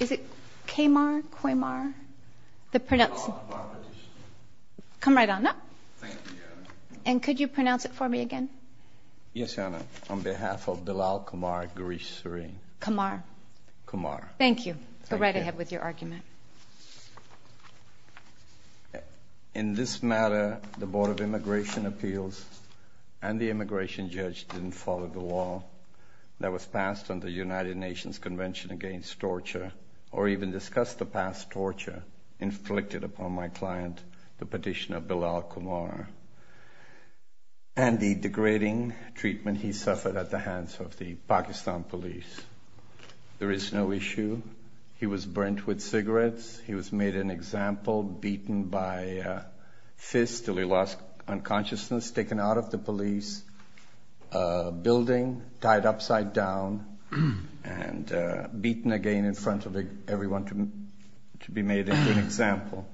Is it K-mar, Kway-mar? The pronounce... Qamar petition. Come right on up. Thank you, Your Honor. And could you pronounce it for me again? Yes, Your Honor. On behalf of Bilal Qamar Ghareesh Sareen. Qamar. Qamar. Thank you. Go right ahead with your argument. In this matter, the Board of Immigration Appeals and the immigration judge didn't follow the law that was passed on the United Nations Convention Against Torture, or even discussed the past torture inflicted upon my client, the petitioner Bilal Qamar, and the degrading treatment he suffered at the hands of the Pakistan police. There is no issue. He was burnt with cigarettes. He was made an example, beaten by fists until he lost consciousness, taken out of the police building, tied upside down, and beaten again in front of everyone to be made into an example.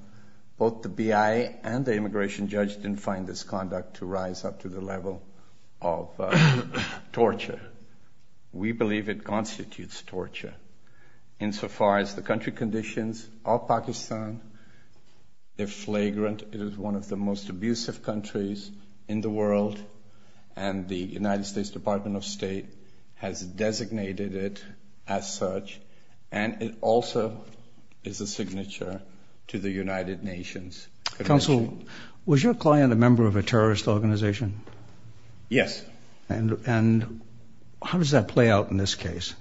Both the BIA and the immigration judge didn't find this conduct to rise up to the level of torture. We believe it constitutes torture. Insofar as the country conditions of Pakistan, they're flagrant it is one of the most abusive countries in the world, and the United States Department of State has designated it as such, and it also is a signature to the United Nations Convention. Counsel, was your client a member of a terrorist organization? Yes. And how does that play out in this case?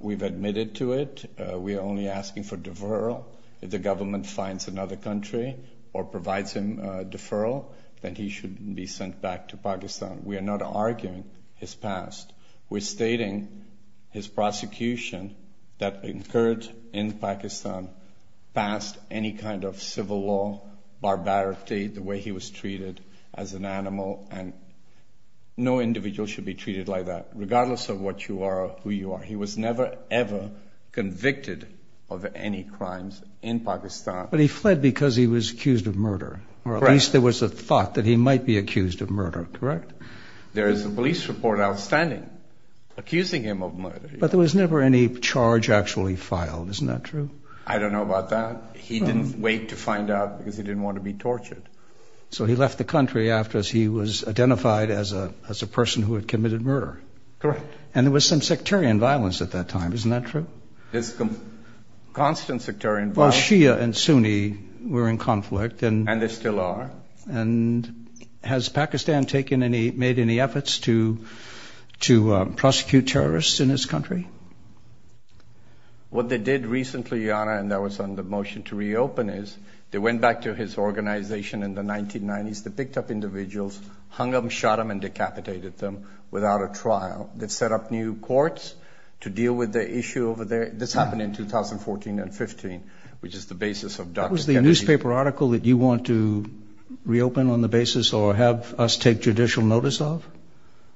We've admitted to it. We are only asking for deferral. If the government finds another country or provides him deferral, then he should be sent back to Pakistan. We are not arguing his past. We're stating his prosecution that occurred in Pakistan passed any kind of civil law, barbarity, the way he was treated as an animal, and no individual should be treated like that, regardless of what you are or who you are. He was never, ever convicted of any crimes in Pakistan. But he fled because he was accused of murder. Correct. Or at least there was a thought that he might be accused of murder, correct? There is a police report outstanding accusing him of murder. But there was never any charge actually filed. Isn't that true? I don't know about that. He didn't wait to find out because he didn't want to be tortured. So he left the country after he was identified as a person who had committed murder. Correct. And there was some sectarian violence at that time. Isn't that true? There's constant sectarian violence. Well, Shia and Sunni were in conflict. And they still are. And has Pakistan made any efforts to prosecute terrorists in his country? What they did recently, Your Honor, and that was on the motion to reopen, is they went back to his organization in the 1990s. They picked up individuals, hung them, shot them, and decapitated them without a trial. They set up new courts to deal with the issue over there. This happened in 2014 and 2015, which is the basis of Dr. Kennedy. That was the newspaper article that you want to reopen on the basis or have us take judicial notice of?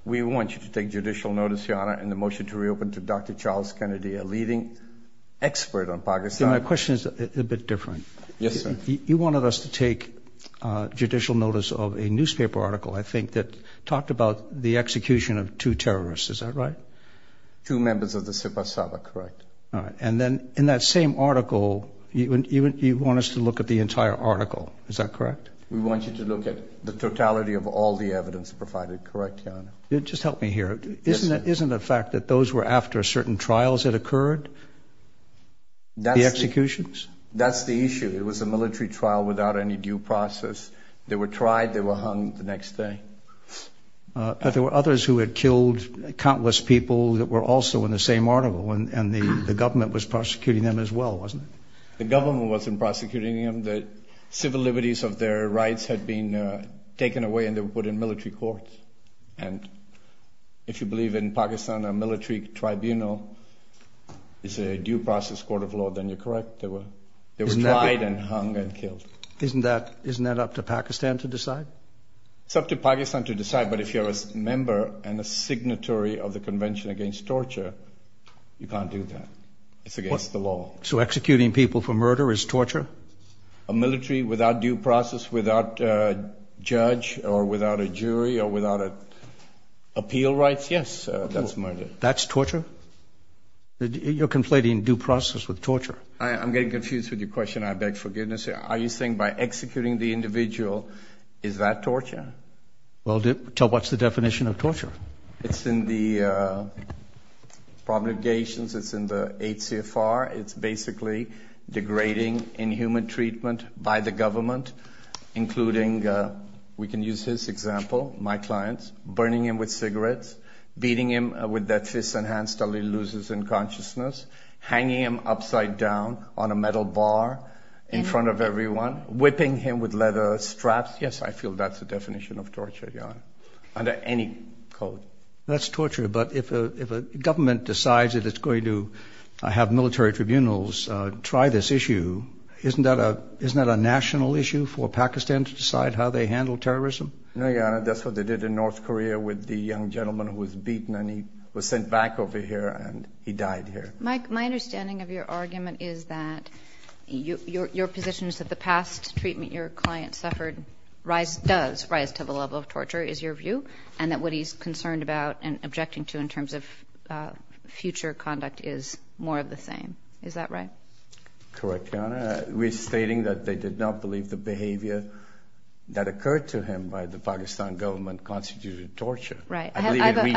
We want you to take judicial notice, Your Honor, in the motion to reopen to Dr. Charles Kennedy, a leading expert on Pakistan. My question is a bit different. Yes, sir. You wanted us to take judicial notice of a newspaper article, I think, that talked about the execution of two terrorists. Is that right? Two members of the Sepah Sabah, correct. All right. And then in that same article, you want us to look at the entire article. Is that correct? We want you to look at the totality of all the evidence provided, correct, Your Honor? Just help me here. Yes, sir. Isn't it a fact that those were after certain trials had occurred, the executions? That's the issue. It was a military trial without any due process. They were tried. They were hung the next day. But there were others who had killed countless people that were also in the same article, and the government was prosecuting them as well, wasn't it? The government wasn't prosecuting them. The civil liberties of their rights had been taken away and they were put in military courts. And if you believe in Pakistan a military tribunal is a due process court of law, then you're correct. They were tried and hung and killed. Isn't that up to Pakistan to decide? It's up to Pakistan to decide. But if you're a member and a signatory of the Convention Against Torture, you can't do that. It's against the law. So executing people for murder is torture? A military without due process, without judge or without a jury or without appeal rights, yes, that's murder. That's torture? You're conflating due process with torture. I'm getting confused with your question. I beg forgiveness here. Are you saying by executing the individual, is that torture? Well, tell what's the definition of torture. It's in the probligations. It's in the ACFR. It's basically degrading inhuman treatment by the government, including, we can use his example, my clients, burning him with cigarettes, beating him with their fists and hands until he loses consciousness, hanging him upside down on a metal bar in front of everyone, whipping him with leather straps. Yes, I feel that's the definition of torture, Your Honor, under any code. That's torture. But if a government decides that it's going to have military tribunals try this issue, isn't that a national issue for Pakistan to decide how they handle terrorism? No, Your Honor, that's what they did in North Korea with the young gentleman who was beaten and he was sent back over here and he died here. Mike, my understanding of your argument is that your position is that the past treatment your client suffered does rise to the level of torture, is your view, and that what he's concerned about and objecting to in terms of future conduct is more of the same. Is that right? Correct, Your Honor. We're stating that they did not believe the behavior that occurred to him by the Pakistan government constituted torture. Right.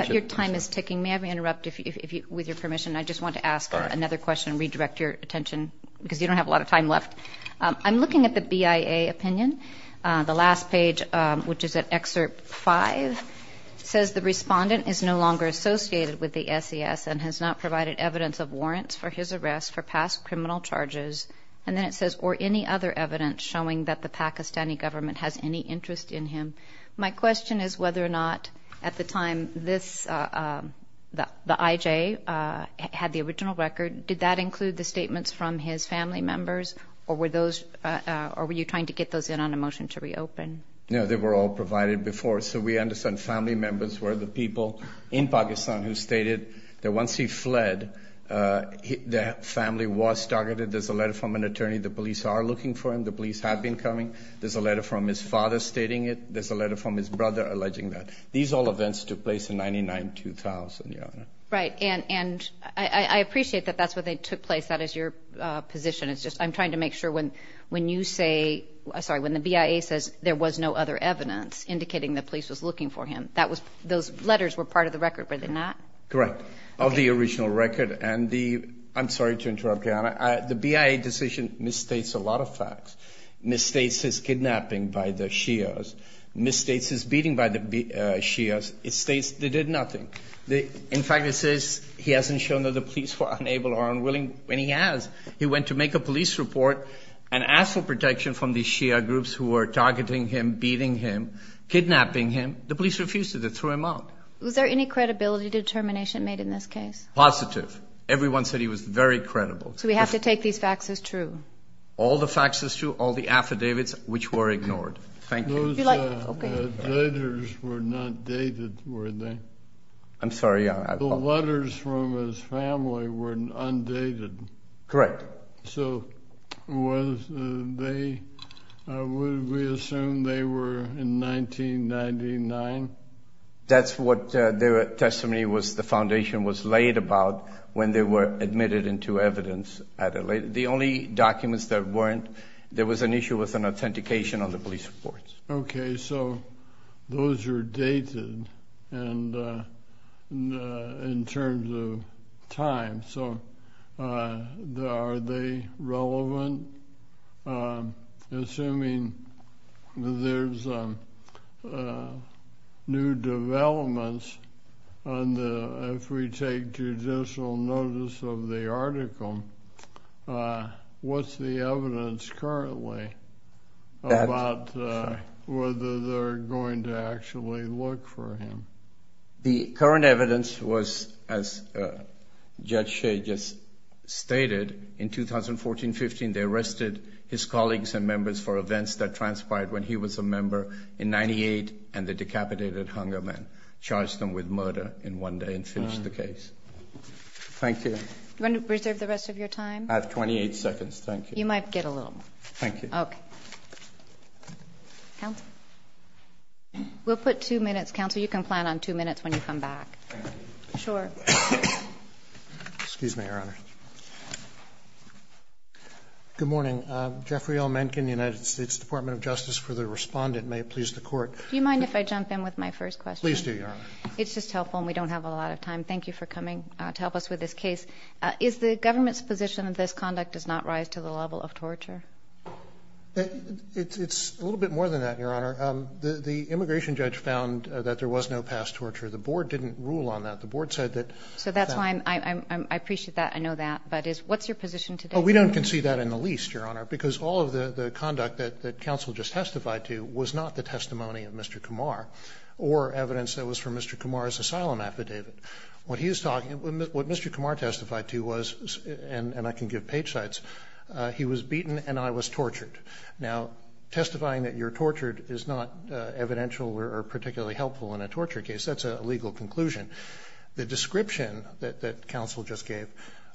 Your time is ticking. May I interrupt with your permission? I just want to ask another question and redirect your attention because you don't have a lot of time left. I'm looking at the BIA opinion. The last page, which is at Excerpt 5, says the respondent is no longer associated with the SES and has not provided evidence of warrants for his arrest for past criminal charges. And then it says, or any other evidence showing that the Pakistani government has any interest in him. My question is whether or not at the time this, the IJ, had the original record, did that include the statements from his family members or were you trying to get those in on a motion to reopen? No, they were all provided before. So we understand family members were the people in Pakistan who stated that once he fled, the family was targeted. There's a letter from an attorney. The police are looking for him. The police have been coming. There's a letter from his father stating it. There's a letter from his brother alleging that. These all events took place in 99-2000, Your Honor. Right. And I appreciate that that's where they took place. That is your position. It's just I'm trying to make sure when you say, sorry, when the BIA says there was no other evidence indicating the police was looking for him, that was, those letters were part of the record, were they not? Correct. Of the original record and the, I'm sorry to interrupt, Your Honor. The BIA decision misstates a lot of facts. Misstates his kidnapping by the Shias. Misstates his beating by the Shias. It states they did nothing. In fact, it says he hasn't shown that the police were unable or unwilling, and he has. He went to make a police report and asked for protection from the Shia groups who were targeting him, beating him, kidnapping him. The police refused it. They threw him out. Was there any credibility determination made in this case? Positive. Everyone said he was very credible. So we have to take these facts as true? All the facts as true, all the affidavits which were ignored. Thank you. Those letters were not dated, were they? I'm sorry, Your Honor. The letters from his family were undated. Correct. So was they, would we assume they were in 1999? That's what their testimony was, the foundation was laid about when they were admitted into evidence. The only documents that weren't, there was an issue with an authentication on the police reports. Okay, so those are dated in terms of time, so are they relevant? Assuming there's new developments, if we take judicial notice of the article, what's the evidence currently about whether they're going to actually look for him? The current evidence was, as Judge Shea just stated, in 2014-15, they arrested his colleagues and members for events that transpired when he was a member in 98, and they decapitated Hungerman, charged him with murder in one day, and finished the case. Thank you. Do you want to reserve the rest of your time? I have 28 seconds. Thank you. You might get a little more. Thank you. Okay. Counsel? We'll put two minutes. Counsel, you can plan on two minutes when you come back. Sure. Excuse me, Your Honor. Good morning. Jeffrey L. Mencken, United States Department of Justice, for the respondent. May it please the Court. Do you mind if I jump in with my first question? Please do, Your Honor. It's just helpful, and we don't have a lot of time. Thank you for coming to help us with this case. Is the government's position that this conduct does not rise to the level of torture? It's a little bit more than that, Your Honor. The immigration judge found that there was no past torture. The board didn't rule on that. The board said that that was the case. So that's why I appreciate that. I know that. But what's your position today? Oh, we don't concede that in the least, Your Honor, because all of the conduct that counsel just testified to was not the testimony of Mr. Kumar or evidence that was from Mr. Kumar's asylum affidavit. What he is talking about, what Mr. Kumar testified to was, and I can give page sites, he was beaten and I was tortured. Now, testifying that you're tortured is not evidential or particularly helpful in a torture case. That's a legal conclusion. The description that counsel just gave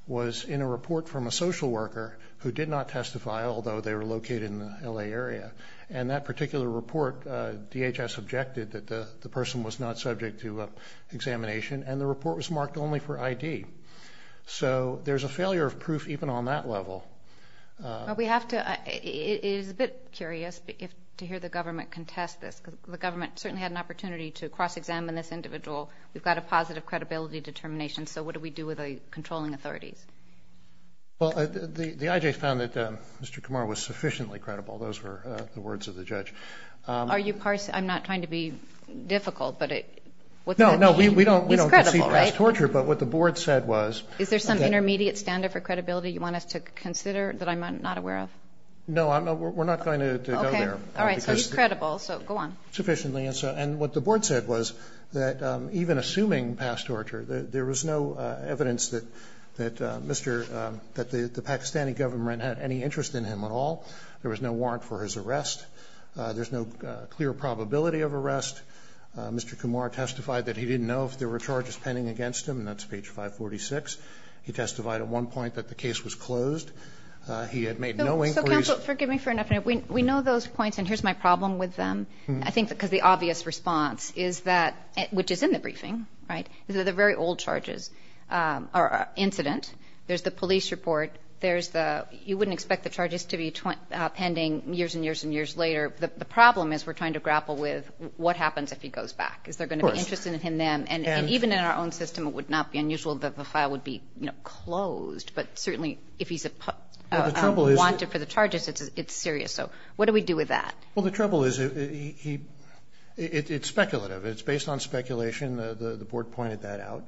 was in a report from a social worker who did not testify, although they were located in the L.A. area. And that particular report, DHS objected that the person was not subject to examination, and the report was marked only for ID. So there's a failure of proof even on that level. Well, we have to, it is a bit curious to hear the government contest this, because the government certainly had an opportunity to cross-examine this individual. We've got a positive credibility determination, so what do we do with the controlling authorities? Well, the IJ found that Mr. Kumar was sufficiently credible. Those were the words of the judge. Are you parsing, I'm not trying to be difficult, but what's that mean? No, no, we don't concede he was tortured, but what the board said was that Is there some intermediate standard for credibility you want us to consider that I'm not aware of? No, we're not going to go there. Okay. All right. So he's credible, so go on. Sufficiently. And what the board said was that even assuming past torture, there was no evidence that Mr. the Pakistani government had any interest in him at all. There was no warrant for his arrest. There's no clear probability of arrest. Mr. Kumar testified that he didn't know if there were charges pending against him, and that's page 546. He testified at one point that the case was closed. He had made no inquiries. So counsel, forgive me for interrupting. We know those points, and here's my problem with them. I think because the obvious response is that, which is in the briefing, right, is that the very old charges are incident. There's the police report. There's the you wouldn't expect the charges to be pending years and years and years later. The problem is we're trying to grapple with what happens if he goes back. Is there going to be interest in him then? And even in our own system, it would not be unusual that the file would be, you know, closed, but certainly if he's wanted for the charges, it's serious. So what do we do with that? Well, the trouble is it's speculative. It's based on speculation. The board pointed that out.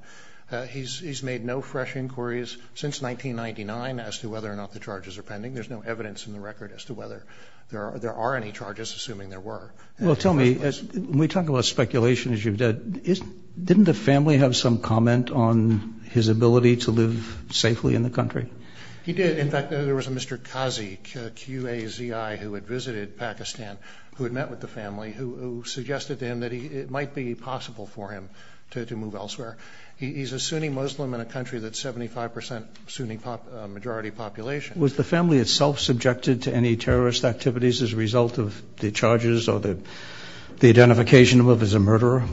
He's made no fresh inquiries since 1999 as to whether or not the charges are pending. There's no evidence in the record as to whether there are any charges, assuming there were. Well, tell me, when we talk about speculation, as you've said, didn't the family have some comment on his ability to live safely in the country? He did. In fact, there was a Mr. Qazi, Q-A-Z-I, who had visited Pakistan, who had met with the family, who suggested to him that it might be possible for him to move elsewhere. He's a Sunni Muslim in a country that's 75 percent Sunni majority population. Was the family itself subjected to any terrorist activities as a result of the charges or the identification of him as a murderer?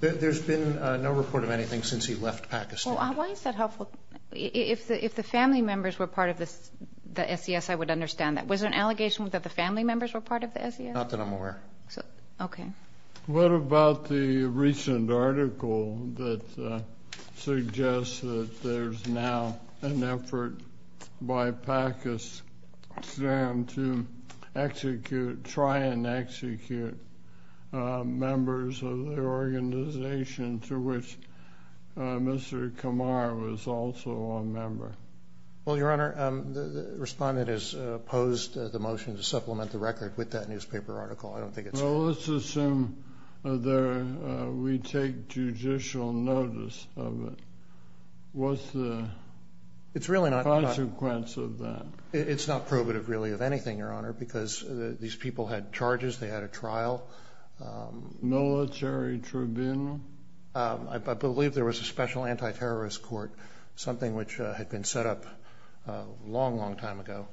There's been no report of anything since he left Pakistan. Well, why is that helpful? If the family members were part of the SES, I would understand that. Was there an allegation that the family members were part of the SES? Not that I'm aware of. Okay. What about the recent article that suggests that there's now an effort by Pakistan to try and execute members of the organization to which Mr. Qamar was also a member? Well, Your Honor, the respondent has opposed the motion to supplement the record with that newspaper article. I don't think it's fair. Well, let's assume that we take judicial notice of it. What's the consequence of that? It's not probative, really, of anything, Your Honor, because these people had charges. They had a trial. Military tribunal? I believe there was a special anti-terrorist court, something which had been set up a long, long time ago.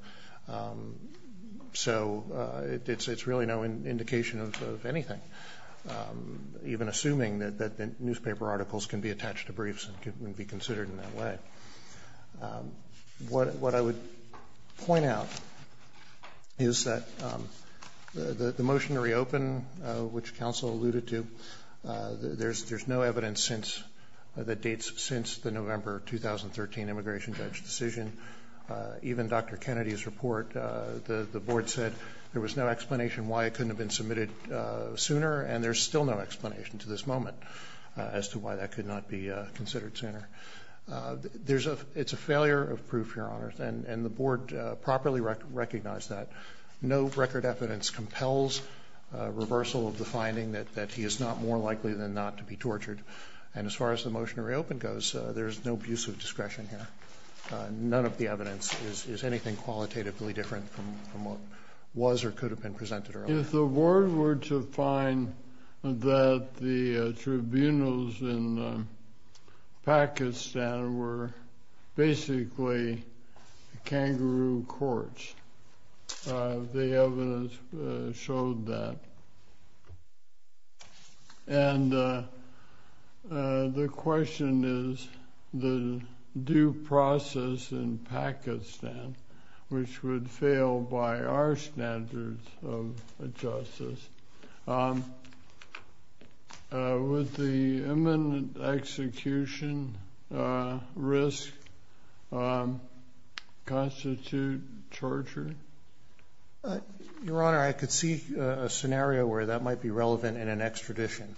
So it's really no indication of anything, even assuming that the newspaper articles can be attached to briefs and can be considered in that way. What I would point out is that the motion to reopen, which counsel alluded to, there's no evidence that dates since the November 2013 immigration judge decision. Even Dr. Kennedy's report, the board said there was no explanation why it couldn't have been submitted sooner, and there's still no explanation to this moment as to why that could not be considered sooner. It's a failure of proof, Your Honor, and the board properly recognized that. No record evidence compels a reversal of the finding that he is not more likely than not to be tortured. And as far as the motion to reopen goes, there's no abuse of discretion here. None of the evidence is anything qualitatively different from what was or could have been presented earlier. If the board were to find that the tribunals in Pakistan were basically kangaroo courts, the evidence showed that. And the question is, the due process in Pakistan, which would fail by our standards of justice, would the imminent execution risk constitute torture? Your Honor, I could see a scenario where that might be relevant in an extradition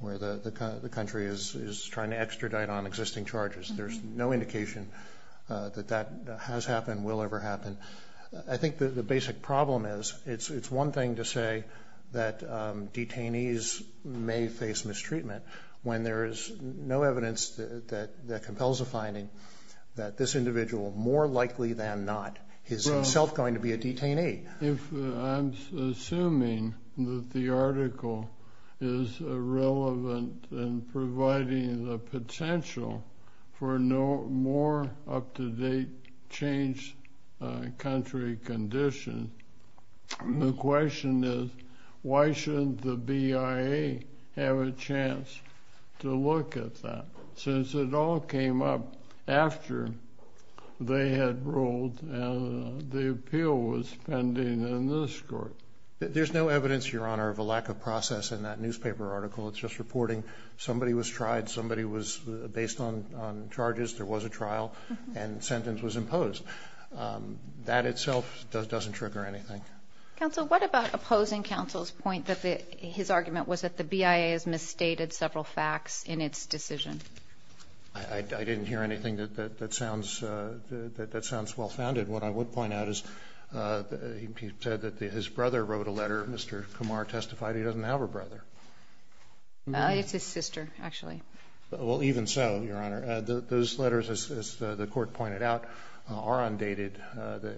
where the country is trying to extradite on existing charges. There's no indication that that has happened, will ever happen. I think the basic problem is it's one thing to say that detainees may face mistreatment when there is no evidence that compels a finding that this individual more likely than not is himself going to be a detainee. I'm assuming that the article is relevant in providing the potential for more up-to-date changed country conditions. The question is, why shouldn't the BIA have a chance to look at that? Since it all came up after they had ruled and the appeal was pending in this court. There's no evidence, Your Honor, of a lack of process in that newspaper article. It's just reporting somebody was tried, somebody was based on charges, there was a trial, and sentence was imposed. That itself doesn't trigger anything. Counsel, what about opposing counsel's point that his argument was that the BIA has I didn't hear anything that sounds well-founded. What I would point out is he said that his brother wrote a letter. Mr. Kumar testified he doesn't have a brother. It's his sister, actually. Well, even so, Your Honor, those letters, as the court pointed out, are undated.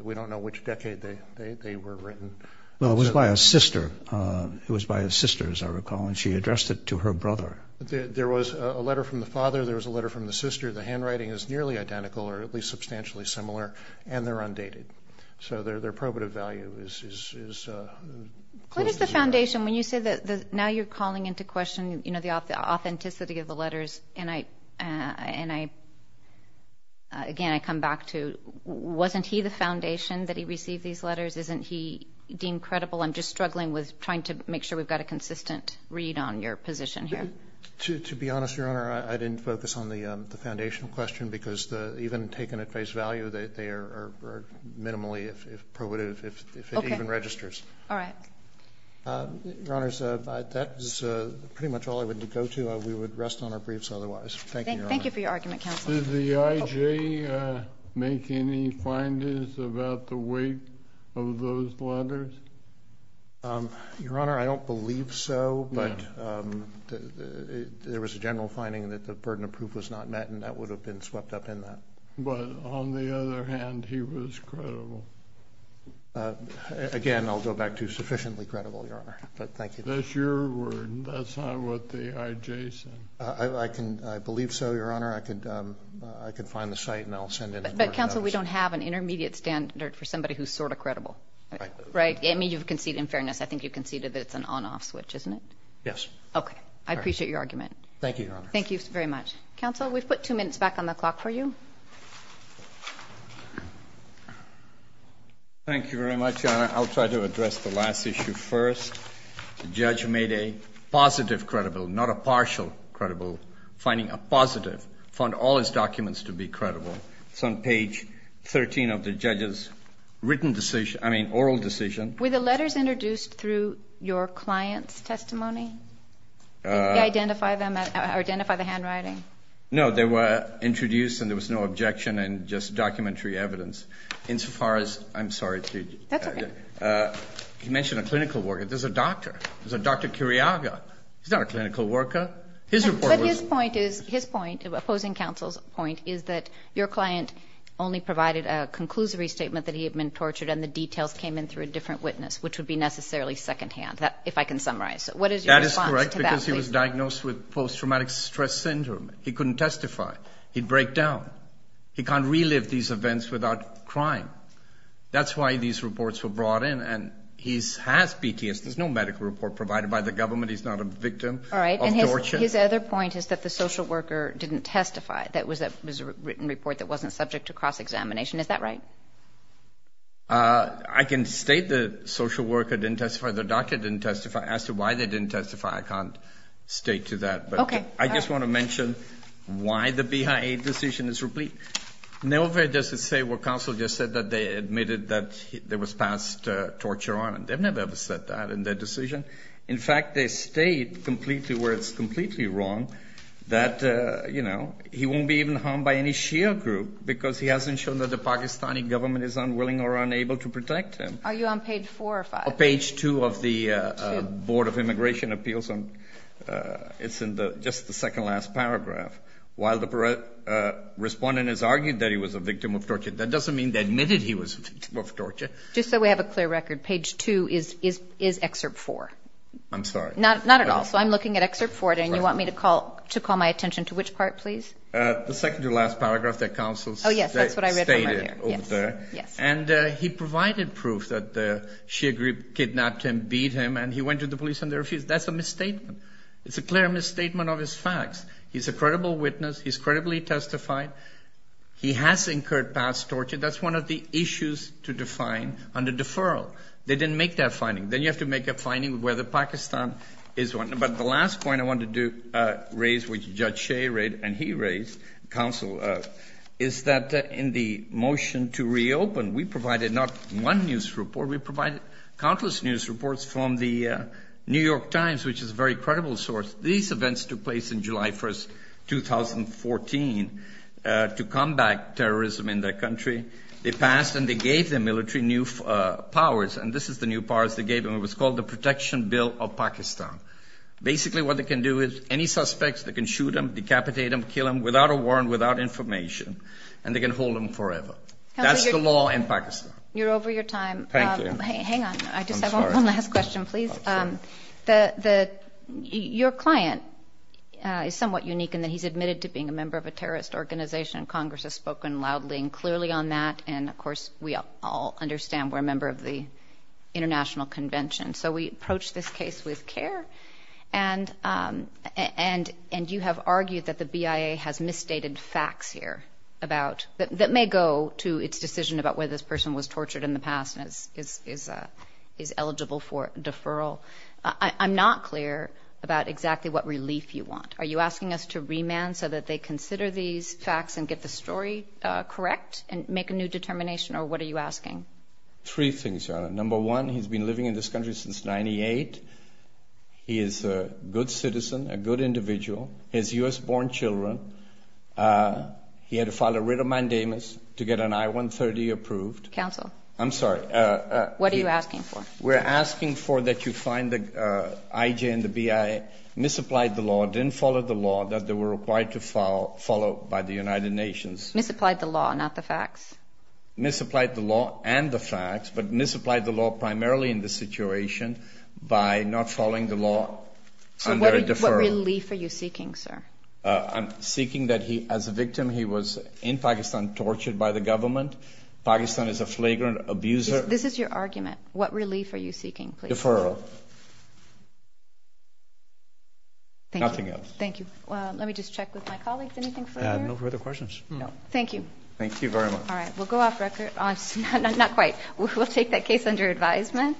We don't know which decade they were written. Well, it was by a sister. It was by a sister, as I recall, and she addressed it to her brother. There was a letter from the father. There was a letter from the sister. The handwriting is nearly identical or at least substantially similar, and they're undated. So their probative value is close to zero. What is the foundation? When you say that now you're calling into question, you know, the authenticity of the letters, and I, again, I come back to wasn't he the foundation that he received these letters? Isn't he deemed credible? I'm just struggling with trying to make sure we've got a consistent read on your position here. To be honest, Your Honor, I didn't focus on the foundational question because even taken at face value, they are minimally probative if it even registers. Okay. All right. Your Honors, that is pretty much all I would go to. We would rest on our briefs otherwise. Thank you, Your Honor. Thank you for your argument, counsel. Did the I.J. make any findings about the weight of those letters? Your Honor, I don't believe so, but there was a general finding that the burden of proof was not met, and that would have been swept up in that. But on the other hand, he was credible. Again, I'll go back to sufficiently credible, Your Honor, but thank you. That's your word. That's not what the I.J. said. I believe so, Your Honor. I could find the site and I'll send in a court notice. But, counsel, we don't have an intermediate standard for somebody who's sort of credible. Right. Right? I mean, you've conceded, in fairness, I think you've conceded that it's an on-off switch, isn't it? Yes. Okay. I appreciate your argument. Thank you, Your Honor. Thank you very much. Counsel, we've put 2 minutes back on the clock for you. Thank you very much, Your Honor. I'll try to address the last issue first. The judge made a positive credible, not a partial credible. Finding a positive, found all his documents to be credible. It's on page 13 of the judge's written decision, I mean, oral decision. Were the letters introduced through your client's testimony? Did he identify them or identify the handwriting? No, they were introduced and there was no objection and just documentary evidence. Insofar as, I'm sorry. That's okay. You mentioned a clinical worker. There's a doctor. There's a Dr. Curiaga. He's not a clinical worker. His report was. But his point is, his point, opposing counsel's point, is that your client only provided a conclusory statement that he had been tortured and the details came in through a different witness, which would be necessarily secondhand, if I can summarize. What is your response to that? That is correct because he was diagnosed with post-traumatic stress syndrome. He couldn't testify. He'd break down. He can't relive these events without crying. That's why these reports were brought in, and he has PTSD. There's no medical report provided by the government. He's not a victim of torture. All right, and his other point is that the social worker didn't testify. That was a written report that wasn't subject to cross-examination. Is that right? I can state the social worker didn't testify. The doctor didn't testify. As to why they didn't testify, I can't state to that. Okay. I just want to mention why the BIA decision is replete. Nowhere does it say what counsel just said, that they admitted that there was past torture on. They've never ever said that in their decision. In fact, they state completely where it's completely wrong, that, you know, he won't be even harmed by any Shia group because he hasn't shown that the Pakistani government is unwilling or unable to protect him. Are you on page 4 or 5? Page 2 of the Board of Immigration Appeals. It's in just the second-to-last paragraph. While the respondent has argued that he was a victim of torture, that doesn't mean they admitted he was a victim of torture. Just so we have a clear record, page 2 is Excerpt 4. I'm sorry. Not at all. So I'm looking at Excerpt 4, and you want me to call my attention to which part, please? The second-to-last paragraph that counsel stated over there. Oh, yes, that's what I read over there. Yes. And he provided proof that the Shia group kidnapped him, beat him, and he went to the police and they refused. That's a misstatement. It's a clear misstatement of his facts. He's a credible witness. He's credibly testified. He has incurred past torture. That's one of the issues to define under deferral. They didn't make that finding. Then you have to make a finding whether Pakistan is one. But the last point I wanted to raise, which Judge Shea raised and he raised, counsel, is that in the motion to reopen, we provided not one news report. We provided countless news reports from the New York Times, which is a very credible source. These events took place in July 1, 2014, to combat terrorism in their country. They passed and they gave their military new powers, and this is the new powers they gave them. It was called the Protection Bill of Pakistan. Basically what they can do is any suspects, they can shoot them, decapitate them, kill them, without a warrant, without information, and they can hold them forever. That's the law in Pakistan. You're over your time. Thank you. Hang on. I just have one last question, please. Your client is somewhat unique in that he's admitted to being a member of a terrorist organization, and Congress has spoken loudly and clearly on that, and, of course, we all understand we're a member of the International Convention. So we approach this case with care, and you have argued that the BIA has misstated facts here about that may go to its decision about whether this person was tortured in the past and is eligible for deferral. I'm not clear about exactly what relief you want. Are you asking us to remand so that they consider these facts and get the story correct and make a new determination, or what are you asking? Three things, Your Honor. Number one, he's been living in this country since 98. He is a good citizen, a good individual. He has U.S.-born children. He had to file a writ of mandamus to get an I-130 approved. Counsel? I'm sorry. What are you asking for? We're asking for that you find the IJ and the BIA misapplied the law, didn't follow the law that they were required to follow by the United Nations. Misapplied the law, not the facts? Misapplied the law and the facts, but misapplied the law primarily in this situation by not following the law under a deferral. What relief are you seeking, sir? I'm seeking that he, as a victim, he was in Pakistan tortured by the government. Pakistan is a flagrant abuser. This is your argument. What relief are you seeking, please? Deferral. Nothing else. Thank you. Let me just check with my colleagues. Anything further? No further questions. Thank you. Thank you very much. All right. We'll go off record. Not quite. We'll take that case under advisement.